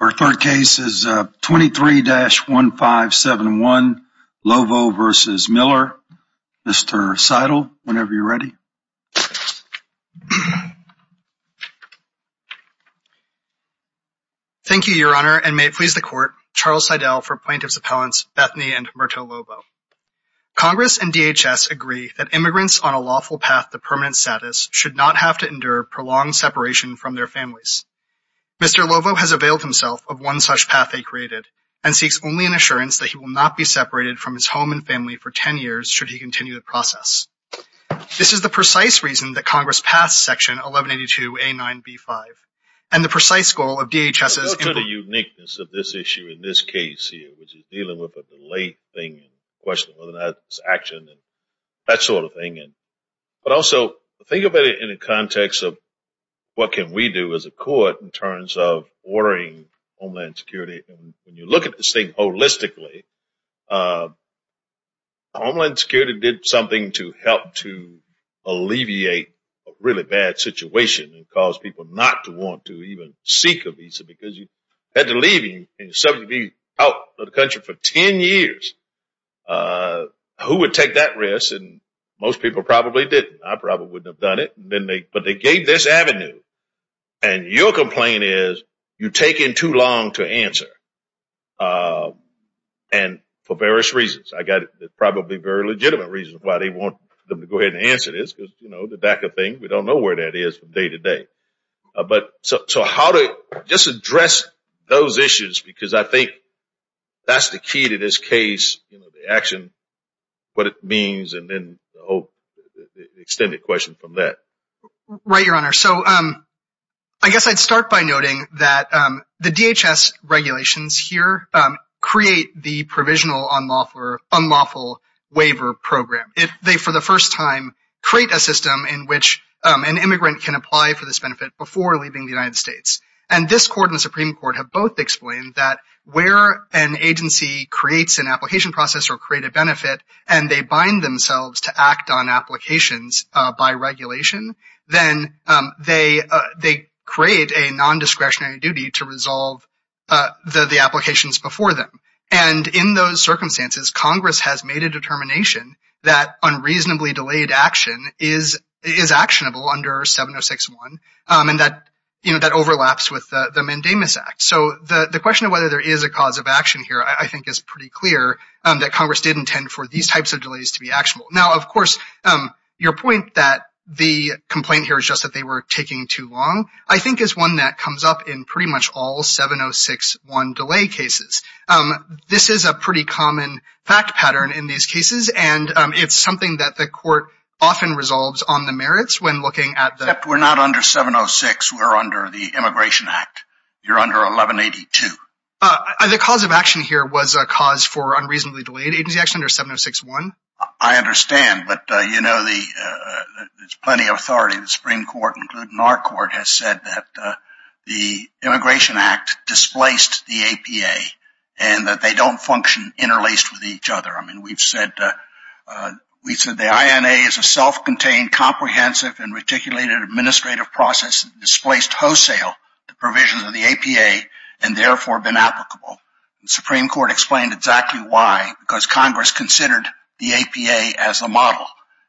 Our third case is 23-1571, Lovo v. Miller. Mr. Seidel, whenever you're ready. Thank you, Your Honor, and may it please the Court, Charles Seidel for Plaintiffs' Appellants Bethany and Merto Lovo. Congress and DHS agree that immigrants on a lawful path to permanent status should not have to endure prolonged separation from their families. Mr. Lovo has availed himself of one such path they created and seeks only an assurance that he will not be separated from his home and family for 10 years should he continue the process. This is the precise reason that Congress passed Section 1182A9B5 and the precise goal of DHS's implementation. Well, look at the uniqueness of this issue in this case here, which is dealing with a delayed thing and questioning whether or not it's action and that sort of thing. But also, think about it in the context of what can we do as a court in terms of ordering Homeland Security. When you look at this thing holistically, Homeland Security did something to help to alleviate a really bad situation and cause people not to want to even seek a visa because you had to leave and be out of the country for 10 years. Who would take that risk? Most people probably didn't. I probably wouldn't have done it, but they gave this avenue and your complaint is you take in too long to answer and for various reasons. I got it. There's probably very legitimate reasons why they want them to go ahead and answer this because the DACA thing, we don't know where that is from day to day. So how to just address those issues because I think that's the key to this case, the action, what it means, and then the extended question from that. Right, Your Honor. So I guess I'd start by noting that the DHS regulations here create the provisional unlawful waiver program. They, for the first time, create a system in which an immigrant can apply for this benefit before leaving the United States. And this Court and the Supreme Court have both explained that where an agency creates an application process or create a benefit and they bind themselves to act on applications by regulation, then they create a nondiscretionary duty to resolve the applications before them. And in those circumstances, Congress has made a determination that unreasonably delayed action is actionable under 706.1 and that overlaps with the Mandamus Act. So the question of whether there is a cause of action here I think is pretty clear that Congress did intend for these types of delays to be actionable. Now of course, your point that the complaint here is just that they were taking too long I think is one that comes up in pretty much all 706.1 delay cases. This is a pretty common fact pattern in these cases, and it's something that the Court often resolves on the merits when looking at the... Except we're not under 706. We're under the Immigration Act. You're under 1182. The cause of action here was a cause for unreasonably delayed agency action under 706.1. I understand, but you know there's plenty of authority. The Supreme Court, including our court, has said that the Immigration Act displaced the APA and that they don't function interlaced with each other. I mean, we've said the INA is a self-contained, comprehensive, and reticulated administrative process that displaced wholesale the provisions of the APA and therefore been applicable. And the Supreme Court explained exactly why, because Congress considered the APA as a model.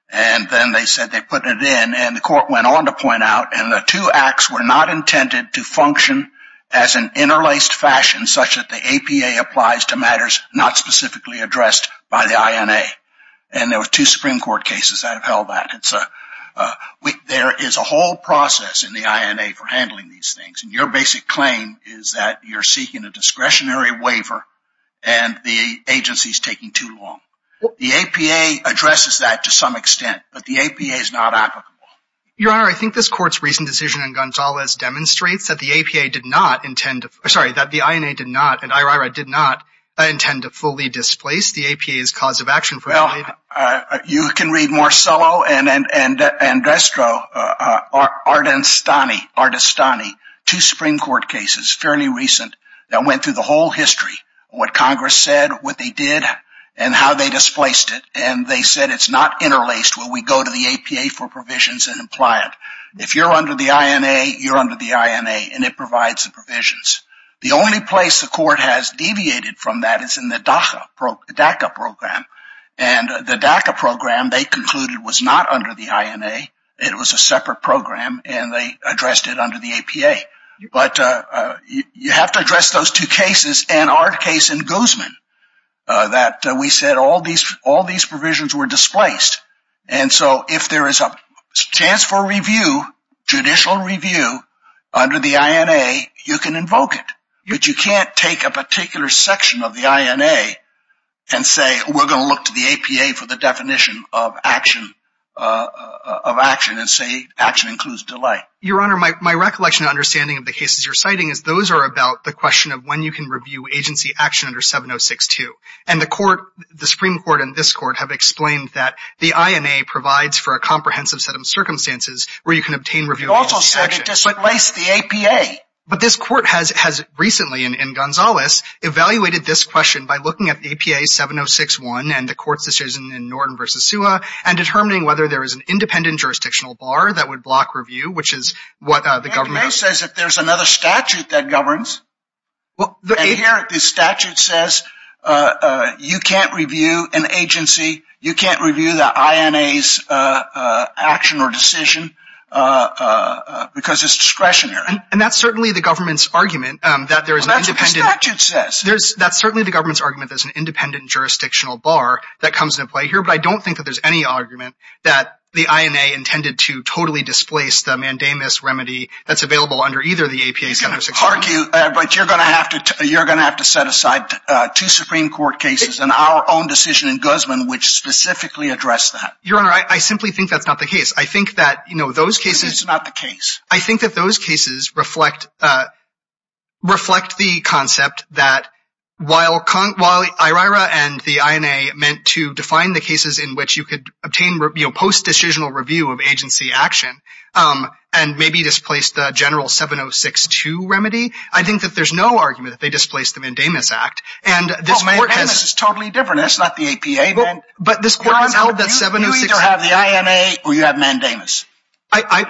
And then they said they put it in, and the court went on to point out, and the two acts were not intended to function as an interlaced fashion such that the APA applies to matters not specifically addressed by the INA. And there were two Supreme Court cases that have held that. There is a whole process in the INA for handling these things, and your basic claim is that you're seeking a discretionary waiver and the agency's taking too long. The APA addresses that to some extent, but the APA is not applicable. Your Honor, I think this court's recent decision in Gonzalez demonstrates that the APA did not intend to, sorry, that the INA did not, and IRIRA did not, intend to fully displace the APA's cause of action for a waiver. You can read Marcello and Destro, Ardestani, two Supreme Court cases, fairly recent, that fully displaced it, and they said it's not interlaced where we go to the APA for provisions and imply it. If you're under the INA, you're under the INA, and it provides the provisions. The only place the court has deviated from that is in the DACA program. And the DACA program, they concluded, was not under the INA. It was a separate program, and they addressed it under the APA. But you have to address those two cases, and our case in Guzman, that we said all these provisions were displaced. And so if there is a chance for review, judicial review, under the INA, you can invoke it. But you can't take a particular section of the INA and say, we're going to look to the APA for the definition of action, and say action includes delay. Your Honor, my recollection and understanding of the cases you're citing is those are about the question of when you can review agency action under 706-2. And the Supreme Court and this Court have explained that the INA provides for a comprehensive set of circumstances where you can obtain review of agency action. You also said it displaced the APA. But this Court has recently, in Gonzales, evaluated this question by looking at APA 706-1 and the Court's decision in Norton v. Suha, and determining whether there is an APA. The APA says that there's another statute that governs. And here, the statute says you can't review an agency, you can't review the INA's action or decision, because it's discretionary. And that's certainly the government's argument that there is an independent... That's what the statute says. That's certainly the government's argument that there's an independent jurisdictional bar that comes into play here. But I don't think that there's any argument that the INA intended to totally displace the mandamus remedy that's available under either the APA 706-1. You can argue, but you're going to have to set aside two Supreme Court cases and our own decision in Guzman which specifically addressed that. Your Honor, I simply think that's not the case. I think that, you know, those cases... It's not the case. I think that those cases reflect the concept that while IRIRA and the INA meant to define the cases in which you could obtain post-decisional review of agency action and maybe displace the general 706-2 remedy, I think that there's no argument that they displaced the mandamus act. And this court has... Well, mandamus is totally different. That's not the APA. But this court has held that 706... Your Honor, you either have the INA or you have mandamus.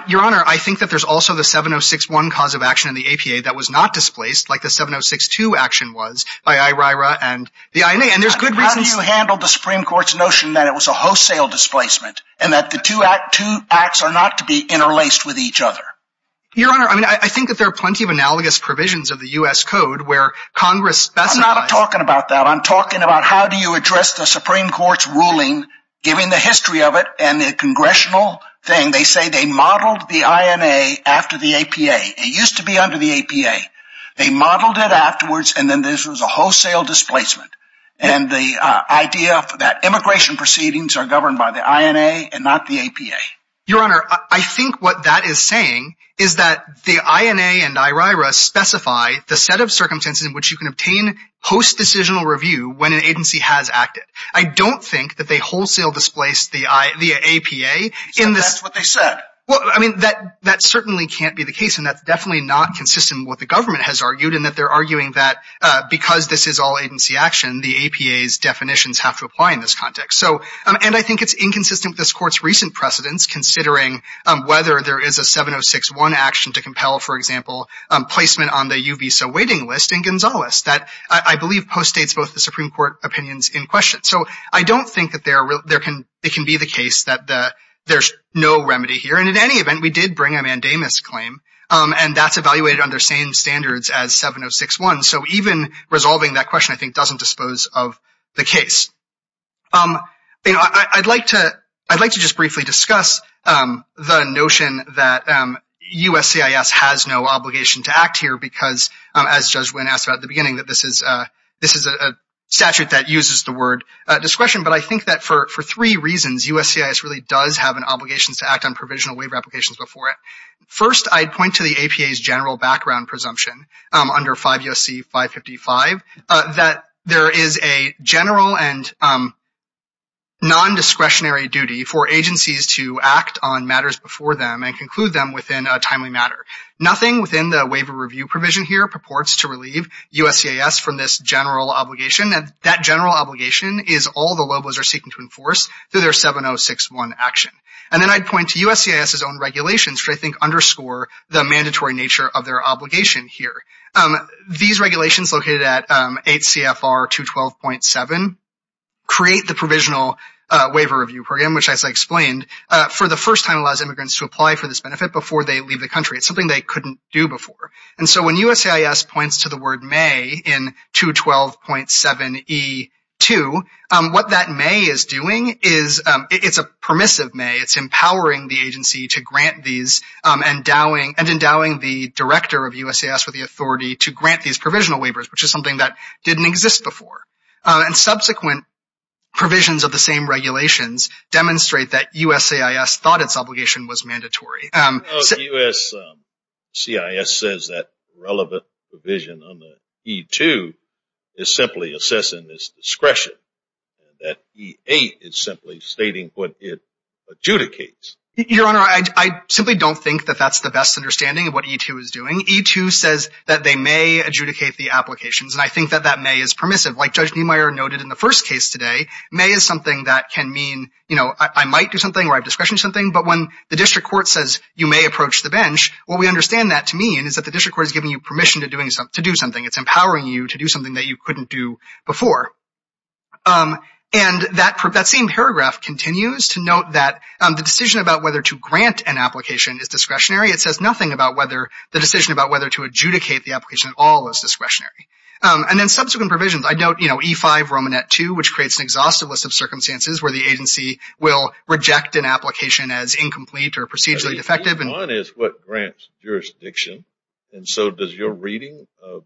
Your Honor, I think that there's also the 706-1 cause of action in the APA that was not displaced like the 706-2 action was by IRIRA and the INA. And there's good reasons... How do you handle the Supreme Court's notion that it was a wholesale displacement and that the two acts are not to be interlaced with each other? Your Honor, I mean, I think that there are plenty of analogous provisions of the U.S. Code where Congress specifies... I'm not talking about that. I'm talking about how do you address the Supreme Court's ruling giving the history of it and the congressional thing. They say they modeled the INA after the APA. It used to be under the APA. They modeled it afterwards and then this was a wholesale displacement. And the idea that immigration proceedings are governed by the INA and not the APA. Your Honor, I think what that is saying is that the INA and IRIRA specify the set of circumstances in which you can obtain post-decisional review when an agency has acted. I don't think that they wholesale displaced the APA in this... So that's what they said. Well, I mean, that certainly can't be the case. And that's definitely not consistent with what the government has argued in that they're the APA's definitions have to apply in this context. So, and I think it's inconsistent with this Court's recent precedents considering whether there is a 706-1 action to compel, for example, placement on the U visa waiting list in Gonzales that I believe postdates both the Supreme Court opinions in question. So I don't think that there can be the case that there's no remedy here. And in any event, we did bring a mandamus claim and that's evaluated under same standards as 706-1. So even resolving that question, I think, doesn't dispose of the case. You know, I'd like to just briefly discuss the notion that USCIS has no obligation to act here because, as Judge Wynn asked about at the beginning, that this is a statute that uses the word discretion. But I think that for three reasons, USCIS really does have an obligation to act on provisional waiver applications before it. First, I'd point to the APA's general background presumption under 5 U.S.C. 555 that there is a general and non-discretionary duty for agencies to act on matters before them and conclude them within a timely matter. Nothing within the waiver review provision here purports to relieve USCIS from this general obligation. And that general obligation is all the LOBOs are seeking to enforce through their 706-1 action. And then I'd point to USCIS's own regulations, which I think underscore the mandatory nature of their obligation here. These regulations located at 8 CFR 212.7 create the provisional waiver review program, which as I explained, for the first time allows immigrants to apply for this benefit before they leave the country. It's something they couldn't do before. And so when USCIS points to the word may in 212.7E2, what that may is doing is, it's a permissive may. It's empowering the agency to grant these and endowing the director of USCIS with the authority to grant these provisional waivers, which is something that didn't exist before. And subsequent provisions of the same regulations demonstrate that USCIS thought its obligation was mandatory. USCIS says that relevant provision on the E2 is simply assessing this discretion. That E8 is simply stating what it adjudicates. Your Honor, I simply don't think that that's the best understanding of what E2 is doing. E2 says that they may adjudicate the applications. And I think that that may is permissive. Like Judge Niemeyer noted in the first case today, may is something that can mean, you know, I might do something where I have discretion to do something. But when the district court says you may approach the bench, what we understand that to mean is that the district court is giving you permission to do something. It's empowering you to do something that you couldn't do before. And that same paragraph continues to note that the decision about whether to grant an application is discretionary. It says nothing about whether the decision about whether to adjudicate the application at all is discretionary. And then subsequent provisions. I note, you know, E5 Romanet 2, which creates an exhaustive list of circumstances where the agency will reject an application as incomplete or procedurally defective. E1 is what grants jurisdiction. And so does your reading of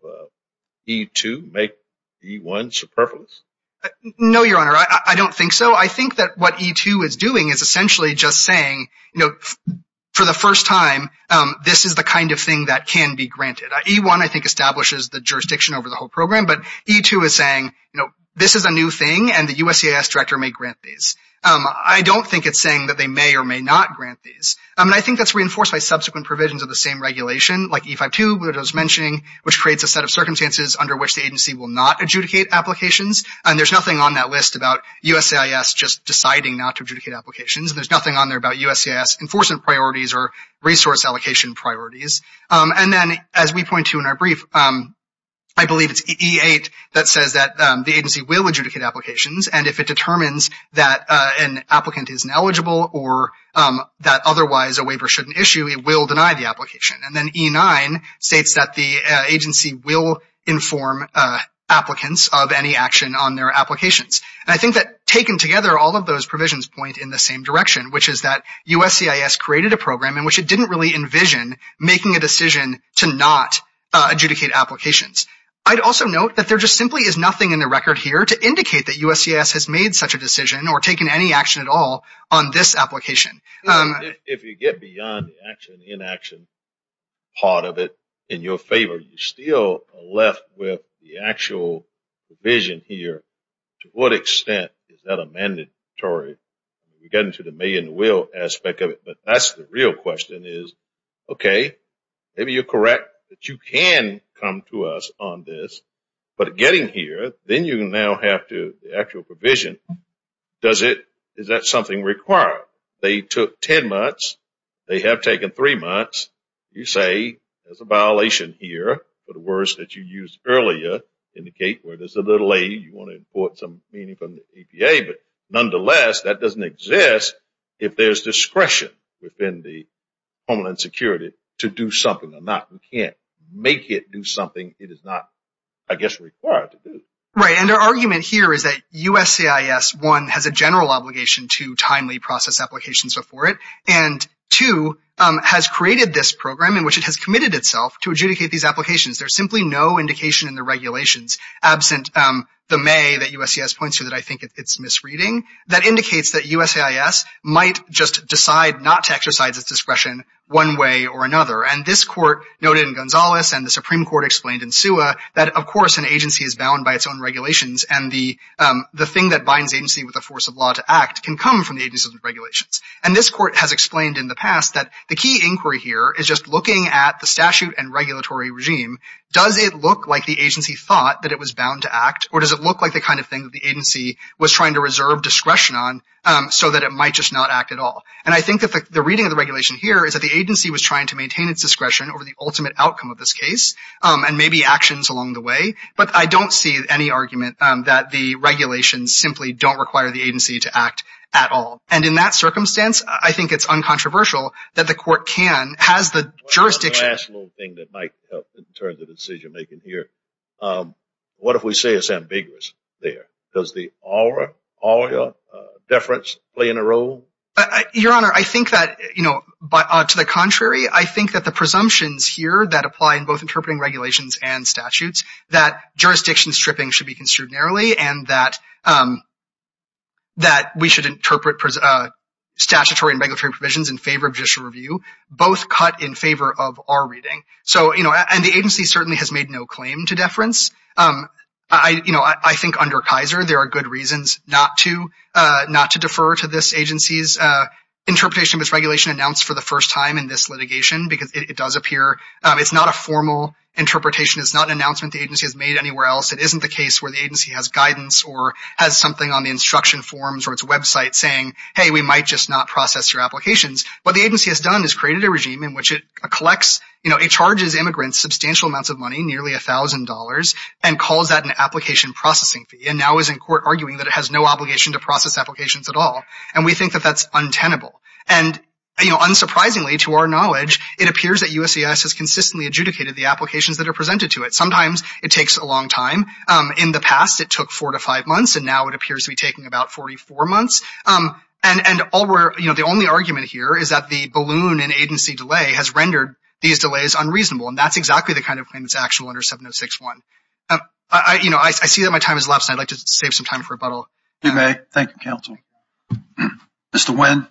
E2 make E1 superfluous? No, Your Honor, I don't think so. I think that what E2 is doing is essentially just saying, you know, for the first time, this is the kind of thing that can be granted. E1, I think, establishes the jurisdiction over the whole program. But E2 is saying, you know, this is a new thing and the USCIS director may grant these. I don't think it's saying that they may or may not grant these. I think that's reinforced by subsequent provisions of the same regulation, like E5-2, what I was mentioning, which creates a set of circumstances under which the agency will not adjudicate applications. And there's nothing on that list about USCIS just deciding not to adjudicate applications. There's nothing on there about USCIS enforcement priorities or resource allocation priorities. And then, as we point to in our brief, I believe it's E8 that says that the agency will adjudicate applications. And if it determines that an applicant is ineligible or that otherwise a waiver shouldn't issue, it will deny the application. And then E9 states that the agency will inform applicants of any action on their applications. And I think that, taken together, all of those provisions point in the same direction, which is that USCIS created a program in which it didn't really envision making a decision to not adjudicate applications. I'd also note that there just simply is nothing in the record here to indicate that USCIS has made such a decision or taken any action at all on this application. If you get beyond the action-inaction part of it in your favor, you're still left with the actual provision here. To what extent is that a mandatory? You get into the may and will aspect of it, but that's the real question is, okay, maybe you're correct that you can come to us on this. But getting here, then you now have to, the actual provision, does it, is that something required? They took 10 months, they have taken three months, you say there's a violation here for the words that you used earlier, indicate where there's a little A, you want to import some meaning from the APA. But nonetheless, that doesn't exist if there's discretion within the Homeland Security to do something or not. You can't make it do something it is not, I guess, required to do. Right, and our argument here is that USCIS, one, has a general obligation to timely process applications before it, and two, has created this program in which it has committed itself to adjudicate these applications. There's simply no indication in the regulations, absent the may that USCIS points to that I think it's misreading, that indicates that USCIS might just decide not to exercise its discretion one way or another. And this court noted in Gonzales and the Supreme Court explained in SUA that, of course, an agency is bound by its own regulations and the thing that binds agency with a force of law to act can come from the agency's regulations. And this court has explained in the past that the key inquiry here is just looking at the statute and regulatory regime. Does it look like the agency thought that it was bound to act, or does it look like the kind of thing that the agency was trying to reserve discretion on so that it might just not act at all? And I think that the reading of the regulation here is that the agency was trying to maintain its discretion over the ultimate outcome of this case, and maybe actions along the way. But I don't see any argument that the regulations simply don't require the agency to act at all. And in that circumstance, I think it's uncontroversial that the court can, has the jurisdiction. One last little thing that might help in terms of decision making here. What if we say it's ambiguous there? Does the aura, aurea, deference play in a role? Your Honor, I think that, you know, to the contrary, I think that the presumptions here that apply in both interpreting regulations and statutes, that jurisdiction stripping should be construed narrowly, and that we should interpret statutory and regulatory provisions in favor of judicial review, both cut in favor of our reading. So, you know, and the agency certainly has made no claim to deference. I, you know, I think under Kaiser, there are good reasons not to, not to defer to this agency's interpretation of its regulation announced for the first time in this litigation, because it does appear, it's not a formal interpretation. It's not an announcement the agency has made anywhere else. It isn't the case where the agency has guidance or has something on the instruction forms or its website saying, hey, we might just not process your applications. What the agency has done is created a regime in which it collects, you know, it charges immigrants substantial amounts of money, nearly $1,000, and calls that an application processing fee, and now is in court arguing that it has no obligation to process applications at all. And we think that that's untenable. And, you know, unsurprisingly, to our knowledge, it appears that USCIS has consistently adjudicated the applications that are presented to it. Sometimes it takes a long time. In the past, it took four to five months, and now it appears to be taking about 44 months. And all we're, you know, the only argument here is that the balloon in agency delay has That's exactly the kind of claim that's actual under 706-1. You know, I see that my time has elapsed. I'd like to save some time for rebuttal. You may. Thank you, counsel. Mr. Nguyen.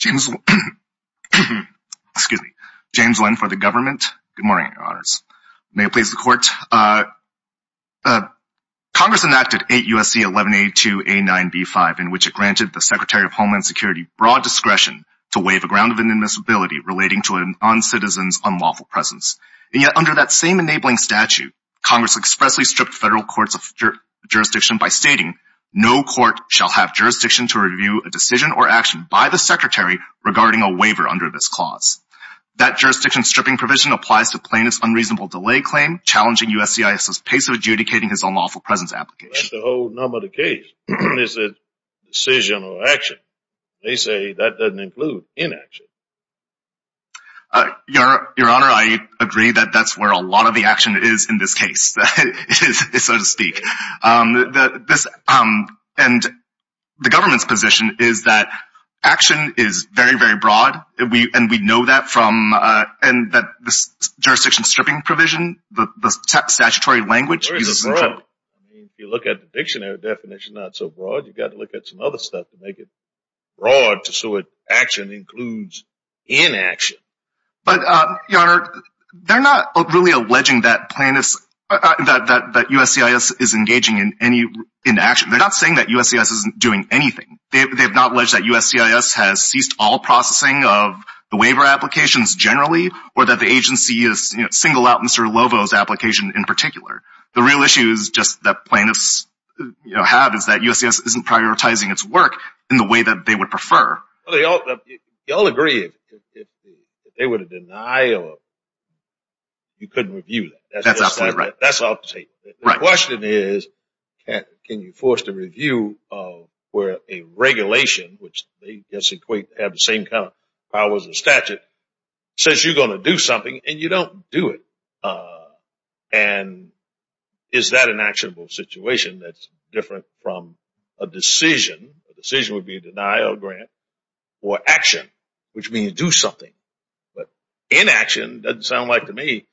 James—excuse me. James Nguyen for the government. Good morning, your honors. May it please the court. Congress enacted 8 U.S.C. 1182A9B5, in which it granted the Secretary of Homeland Security discretion to waive a ground of inadmissibility relating to a noncitizen's unlawful presence. And yet, under that same enabling statute, Congress expressly stripped federal courts of jurisdiction by stating, no court shall have jurisdiction to review a decision or action by the Secretary regarding a waiver under this clause. That jurisdiction stripping provision applies to plaintiff's unreasonable delay claim, challenging USCIS's pace of adjudicating his unlawful presence application. That's the whole number of the case. Is it decision or action? They say that doesn't include inaction. Your honor, I agree that that's where a lot of the action is in this case, so to speak. And the government's position is that action is very, very broad, and we know that from—and this jurisdiction stripping provision, the statutory language— There is a front. If you look at the dictionary definition, it's not so broad. You've got to look at some other stuff to make it broad so that action includes inaction. But, your honor, they're not really alleging that USCIS is engaging in any inaction. They're not saying that USCIS isn't doing anything. They've not alleged that USCIS has ceased all processing of the waiver applications generally or that the agency is single out Mr. Lovo's application in particular. The real issue is just that plaintiffs have is that USCIS isn't prioritizing its work in the way that they would prefer. Y'all agree if they were to deny or you couldn't review that. That's absolutely right. That's all I have to say. The question is, can you force the review of where a regulation, which they have the same kind of powers and statute, says you're going to do something and you don't do it. And, is that an actionable situation that's different from a decision? A decision would be a denial of grant or action, which means do something. But, inaction, doesn't sound like to me,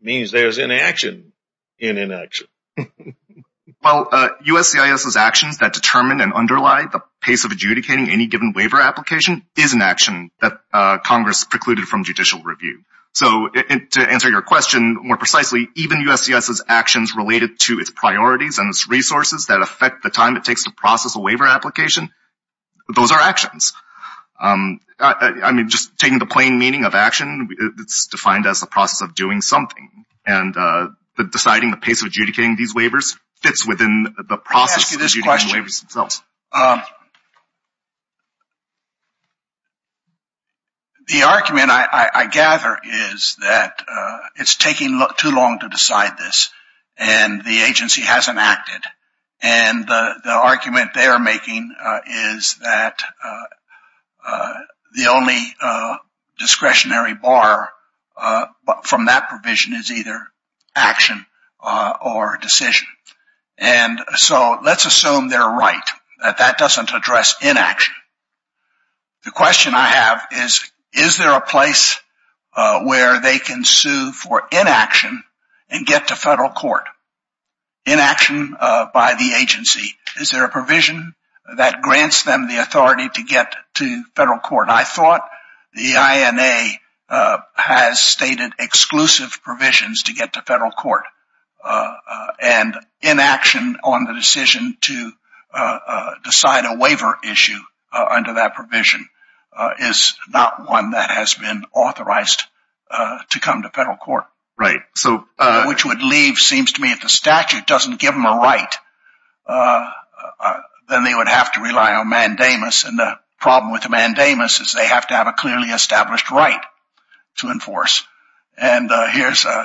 means there's inaction in inaction. Well, USCIS's actions that determine and underlie the pace of adjudicating any given waiver application is an action that Congress precluded from judicial review. So, to answer your question more precisely, even USCIS's actions related to its priorities and its resources that affect the time it takes to process a waiver application, those are actions. I mean, just taking the plain meaning of action, it's defined as the process of doing something. And, deciding the pace of adjudicating these waivers fits within the process of adjudicating waivers themselves. Um, the argument I gather is that it's taking too long to decide this and the agency hasn't acted. And, the argument they're making is that the only discretionary bar from that provision is either action or decision. And so, let's assume they're right, that that doesn't address inaction. The question I have is, is there a place where they can sue for inaction and get to federal court? Inaction by the agency, is there a provision that grants them the authority to get to federal court? I thought the INA has stated exclusive provisions to get to federal court. Uh, and inaction on the decision to decide a waiver issue under that provision is not one that has been authorized to come to federal court. Right. So, which would leave, seems to me, if the statute doesn't give them a right, then they would have to rely on mandamus. And, the problem with the mandamus is they have to have a clearly established right to enforce. And, here's a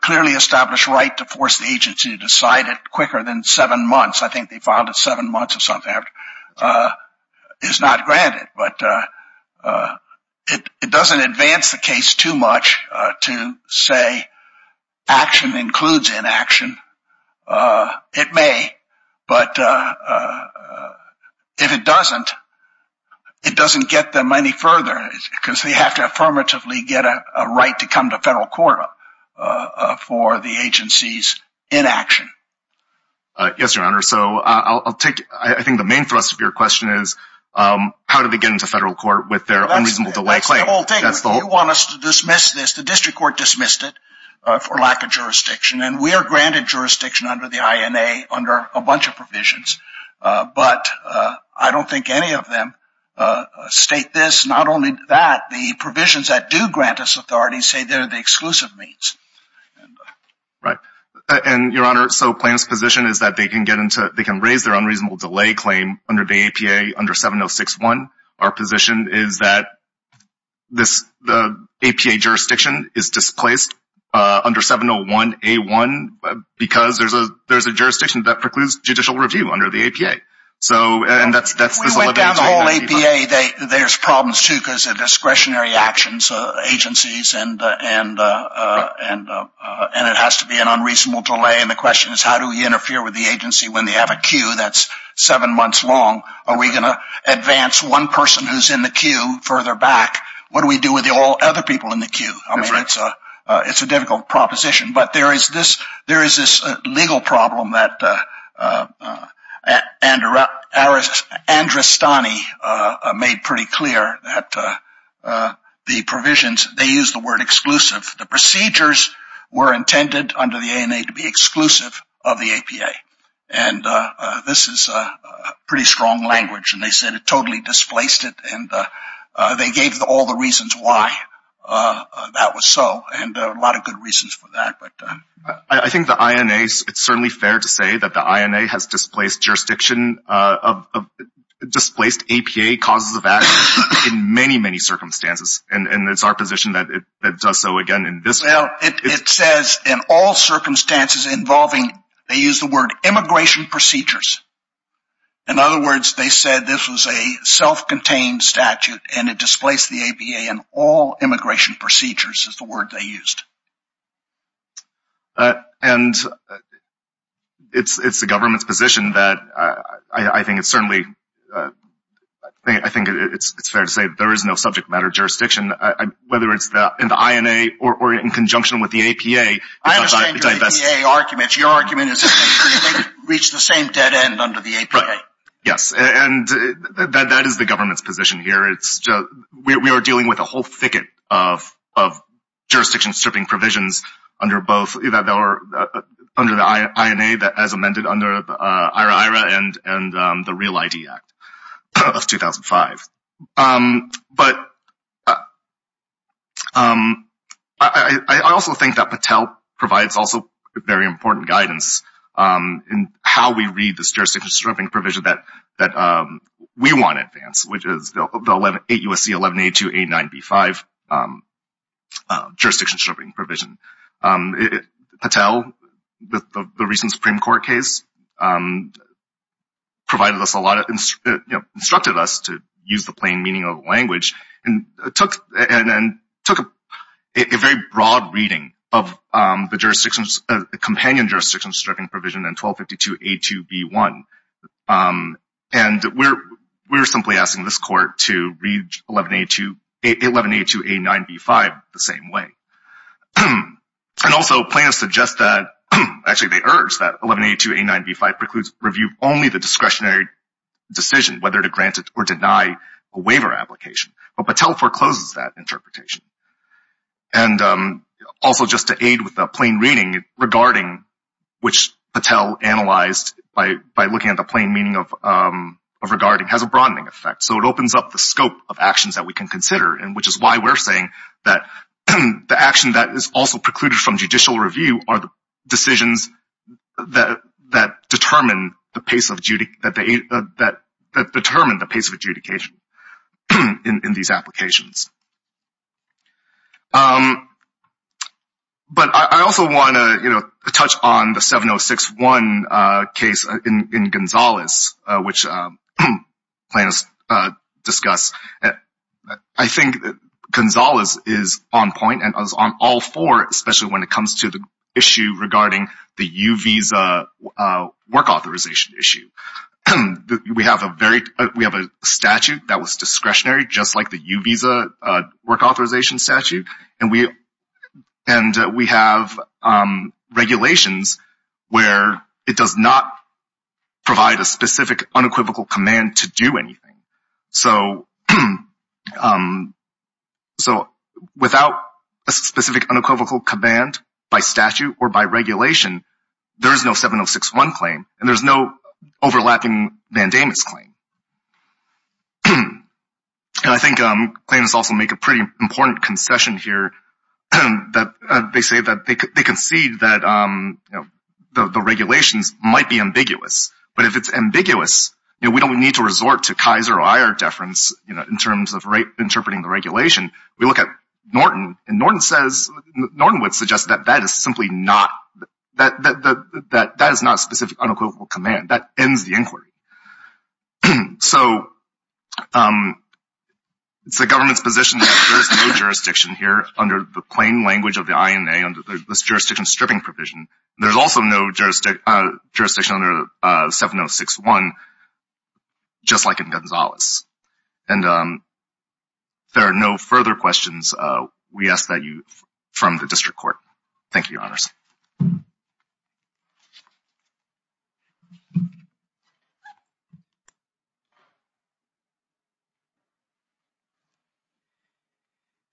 clearly established right to force the agency to decide it quicker than seven months. I think they filed it seven months or something after. It's not granted. But, it doesn't advance the case too much to say action includes inaction. It may. But, if it doesn't, it doesn't get them any further because they have to affirmatively get a right to come to federal court for the agency's inaction. Yes, your honor. So, I'll take, I think the main thrust of your question is, how do they get into federal court with their unreasonable delay claim? That's the whole thing. You want us to dismiss this. The district court dismissed it for lack of jurisdiction. And, we are granted jurisdiction under the INA under a bunch of provisions. But, I don't think any of them state this. Not only that, the provisions that do grant us authority say they're the exclusive means. Right. And, your honor. So, Plaintiff's position is that they can get into, they can raise their unreasonable delay claim under the APA under 7061. Our position is that the APA jurisdiction is displaced under 701A1 because there's a jurisdiction that precludes judicial review under the APA. So, and that's the... We went down the whole APA. There's problems, too, because of discretionary actions, agencies, and it has to be an unreasonable delay. And, the question is, how do we interfere with the agency when they have a queue that's seven months long? Are we going to advance one person who's in the queue further back? What do we do with all other people in the queue? I mean, it's a difficult proposition. But, there is this legal problem that Andrastani made pretty clear that the provisions, they use the word exclusive. The procedures were intended under the ANA to be exclusive of the APA. And, this is pretty strong language, and they said it totally displaced it. And, they gave all the reasons why that was so, and a lot of good reasons for that. I think the INA, it's certainly fair to say that the INA has displaced jurisdiction, displaced APA causes of action in many, many circumstances. And, it's our position that it does so again in this... Well, it says in all circumstances involving, they use the word immigration procedures. In other words, they said this was a self-contained statute, and it displaced the APA in all immigration procedures is the word they used. And, it's the government's position that I think it's certainly, I think it's fair to say that there is no subject matter jurisdiction, whether it's in the INA or in conjunction with the APA. I understand your APA argument. Your argument is that they reached the same dead end under the APA. Yes, and that is the government's position here. We are dealing with a whole thicket of jurisdiction stripping provisions under the INA as amended under the IRA-IRA and the Real ID Act of 2005. But, I also think that Patel provides also very important guidance in how we read this 8 U.S.C. 1182-89-B5 jurisdiction stripping provision. Patel, the recent Supreme Court case, provided us a lot of, instructed us to use the plain meaning of language and took a very broad reading of the jurisdiction, the companion jurisdiction stripping provision in 1252-82-B1. And, we're simply asking this Court to read 1182-89-B5 the same way. And also, plaintiffs suggest that, actually they urge that 1182-89-B5 precludes review only the discretionary decision, whether to grant it or deny a waiver application. But, Patel forecloses that interpretation. And, also just to aid with a plain reading regarding which Patel analyzed by looking at the plain meaning of regarding has a broadening effect. So, it opens up the scope of actions that we can consider. And, which is why we're saying that the action that is also precluded from judicial review are the decisions that determine the pace of adjudication in these applications. But, I also want to, you know, touch on the 706-1 case in Gonzalez, which plaintiffs discuss. I think Gonzalez is on point and is on all four, especially when it comes to the issue regarding the U visa work authorization issue. We have a statute that was discretionary, just like the U visa, work authorization statute. And, we have regulations where it does not provide a specific unequivocal command to do anything. So, without a specific unequivocal command by statute or by regulation, there is no 706-1 claim. And, there's no overlapping mandamus claim. And, I think claimants also make a pretty important concession here. They say that they concede that the regulations might be ambiguous. But, if it's ambiguous, you know, we don't need to resort to Kaiser or IR deference, you know, in terms of interpreting the regulation. We look at Norton, and Norton says, Norton would suggest that that is simply not, that that is not a specific unequivocal command. That ends the inquiry. So, it's the government's position that there's no jurisdiction here under the plain language of the INA under this jurisdiction stripping provision. There's also no jurisdiction under 706-1, just like in Gonzales. And, if there are no further questions, we ask that you, from the district court. Thank you, your honors.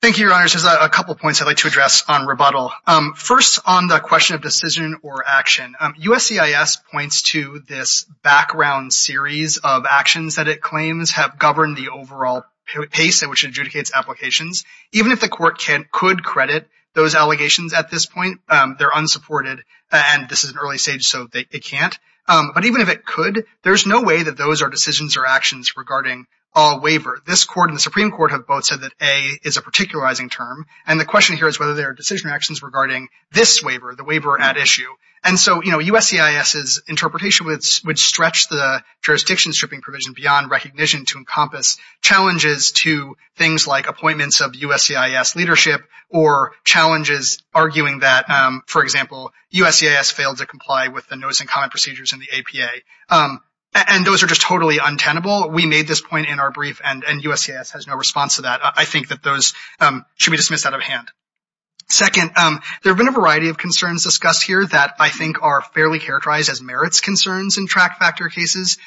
Thank you, your honors. There's a couple points I'd like to address on rebuttal. First, on the question of decision or action, USCIS points to this background series of actions that it claims have governed the overall pace in which it adjudicates applications. Even if the court could credit those allegations at this point, they're unsupported, and this is an early stage, so they can't. But, even if it could, there's no way that those are decisions or actions regarding all waiver. This court and the Supreme Court have both said that A is a particularizing term, and the question here is whether there are decision actions regarding this waiver, the waiver at issue. And so, you know, USCIS's interpretation would stretch the jurisdiction stripping provision beyond recognition to encompass challenges to things like appointments of USCIS leadership, or challenges arguing that, for example, USCIS failed to comply with the notice and comment procedures in the APA, and those are just totally untenable. We made this point in our brief, and USCIS has no response to that. I think that those should be dismissed out of hand. Second, there have been a variety of concerns discussed here that I think are fairly characterized as merits concerns in track factor cases.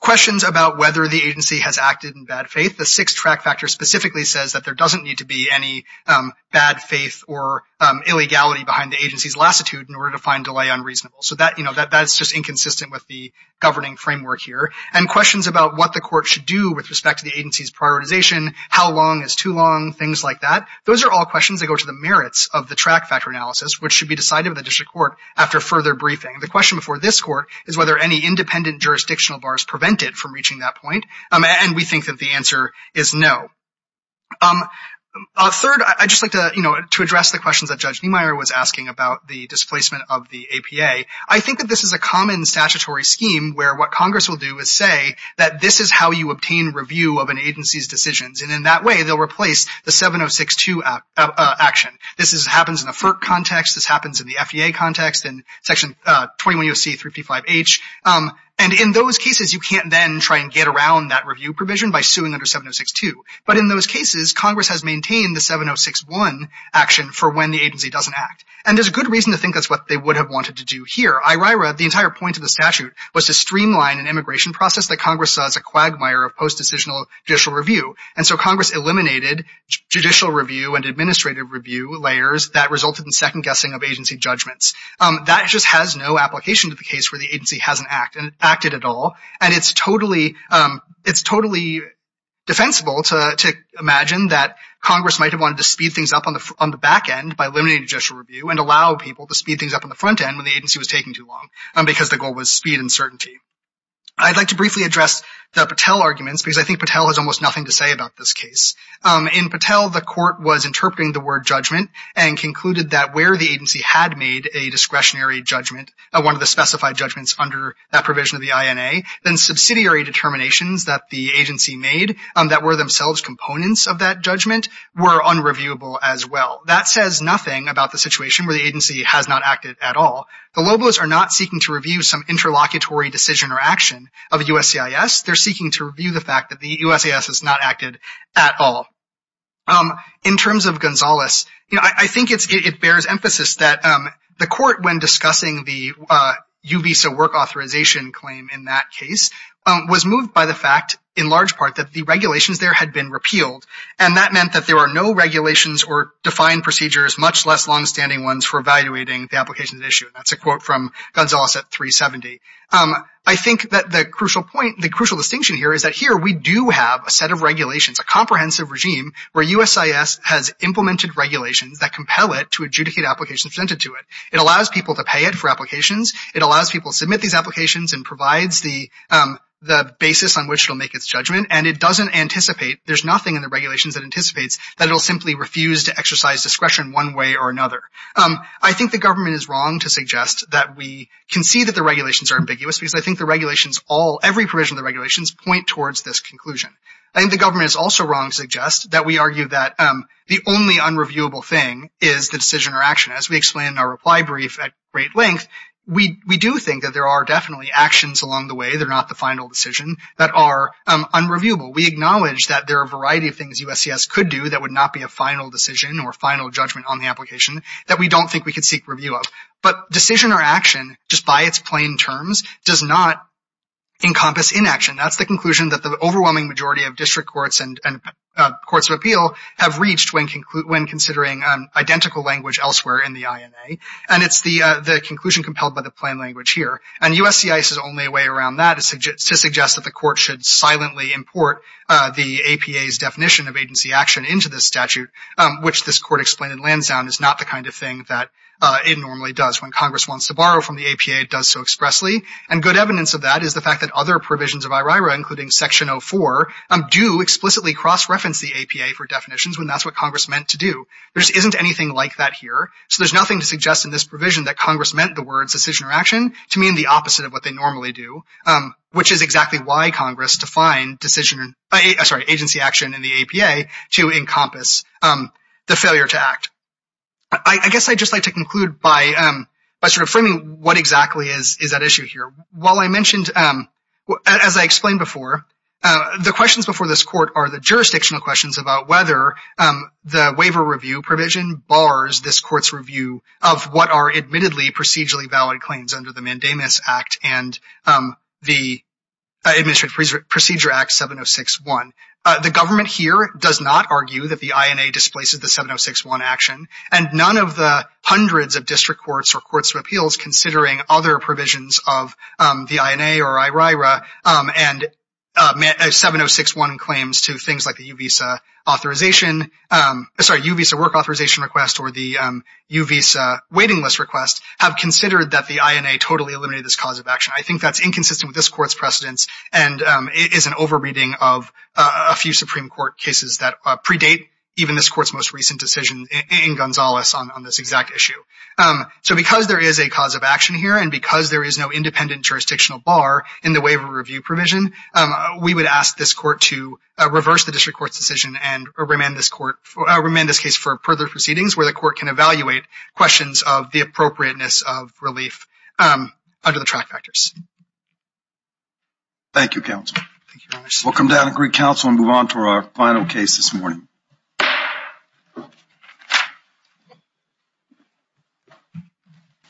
Questions about whether the agency has acted in bad faith. The sixth track factor specifically says that there doesn't need to be any bad faith or illegality behind the agency's lassitude in order to find delay unreasonable. That's just inconsistent with the governing framework here. And questions about what the court should do with respect to the agency's prioritization, how long is too long, things like that. Those are all questions that go to the merits of the track factor analysis, which should be decided by the district court after further briefing. The question before this court is whether any independent jurisdictional bars prevent it from reaching that point, and we think that the answer is no. Third, I'd just like to address the questions that Judge Niemeyer was asking about the displacement of the APA. I think that this is a common statutory scheme where what Congress will do is say that this is how you obtain review of an agency's decisions, and in that way, they'll replace the 7062 action. This happens in the FERC context. This happens in the FDA context and Section 21 U.C. 355H. And in those cases, you can't then try and get around that review provision by suing under 7062. But in those cases, Congress has maintained the 7061 action for when the agency doesn't act. There's a good reason to think that's what they would have wanted to do here. The entire point of the statute was to streamline an immigration process that Congress saw as a quagmire of post-decisional judicial review, and so Congress eliminated judicial review and administrative review layers that resulted in second-guessing of agency judgments. That just has no application to the case where the agency hasn't acted at all, and it's totally defensible to imagine that Congress might have wanted to speed things up on the back end by eliminating judicial review and allow people to speed things up on the front end when the agency was taking too long because the goal was speed and certainty. I'd like to briefly address the Patel arguments because I think Patel has almost nothing to say about this case. In Patel, the court was interpreting the word judgment and concluded that where the agency had made a discretionary judgment, one of the specified judgments under that provision of the INA, then subsidiary determinations that the agency made that were themselves components of that judgment, were unreviewable as well. That says nothing about the situation where the agency has not acted at all. The Lobos are not seeking to review some interlocutory decision or action of USCIS. They're seeking to review the fact that the USCIS has not acted at all. In terms of Gonzales, I think it bears emphasis that the court, when discussing the UBISA work authorization claim in that case, was moved by the fact, in large part, that the regulations there had been repealed. And that meant that there are no regulations or defined procedures, much less long-standing ones, for evaluating the applications at issue. That's a quote from Gonzales at 370. I think that the crucial point, the crucial distinction here, is that here we do have a set of regulations, a comprehensive regime, where USCIS has implemented regulations that compel it to adjudicate applications presented to it. It allows people to pay it for applications. It allows people to submit these applications and provides the basis on which it'll make its judgment. And it doesn't anticipate, there's nothing in the regulations that anticipates, that it'll simply refuse to exercise discretion one way or another. I think the government is wrong to suggest that we concede that the regulations are ambiguous, because I think the regulations all, every provision of the regulations, point towards this conclusion. I think the government is also wrong to suggest that we argue that the only unreviewable thing is the decision or action. As we explain in our reply brief at great length, we do think that there are definitely actions along the way, they're not the final decision, that are unreviewable. We acknowledge that there are a variety of things USCIS could do that would not be a final decision or final judgment on the application that we don't think we could seek review of. But decision or action, just by its plain terms, does not encompass inaction. That's the conclusion that the overwhelming majority of district courts and courts of appeal have reached when considering identical language elsewhere in the INA. And it's the conclusion compelled by the plain language here. And USCIS' only way around that is to suggest that the court should silently import the APA's definition of agency action into this statute, which this court explained in Lansdowne is not the kind of thing that it normally does. When Congress wants to borrow from the APA, it does so expressly. And good evidence of that is the fact that other provisions of IRIRA, including Section 04, do explicitly cross-reference the APA for definitions, when that's what Congress meant to do. There just isn't anything like that here. So there's nothing to suggest in this provision that Congress meant the words decision or action to mean the opposite of what they normally do, which is exactly why Congress defined decision, I'm sorry, agency action in the APA to encompass the failure to act. I guess I'd just like to conclude by sort of framing what exactly is that issue here. While I mentioned, as I explained before, the questions before this court are the jurisdictional questions about whether the waiver review provision bars this court's review of what are admittedly procedurally valid claims under the Mandamus Act and the Administrative Procedure Act 706.1. The government here does not argue that the INA displaces the 706.1 action, and none of the hundreds of district courts or courts of appeals, considering other provisions of the INA or IRIRA and 706.1 claims to things like the U visa authorization, sorry, U visa work authorization request or the U visa waiting list request, have considered that the INA totally eliminated this cause of action. I think that's inconsistent with this court's precedence, and it is an over-reading of a few Supreme Court cases that predate even this court's most recent decision in Gonzales on this exact issue. So because there is a cause of action here, and because there is no independent jurisdictional bar in the waiver review provision, we would ask this court to reverse the district court's decision and remand this court, remand this case for further proceedings where the court can evaluate questions of the appropriateness of relief under the track factors. Thank you, counsel. Thank you, Your Honor. We'll come down and greet counsel and move on to our final case this morning.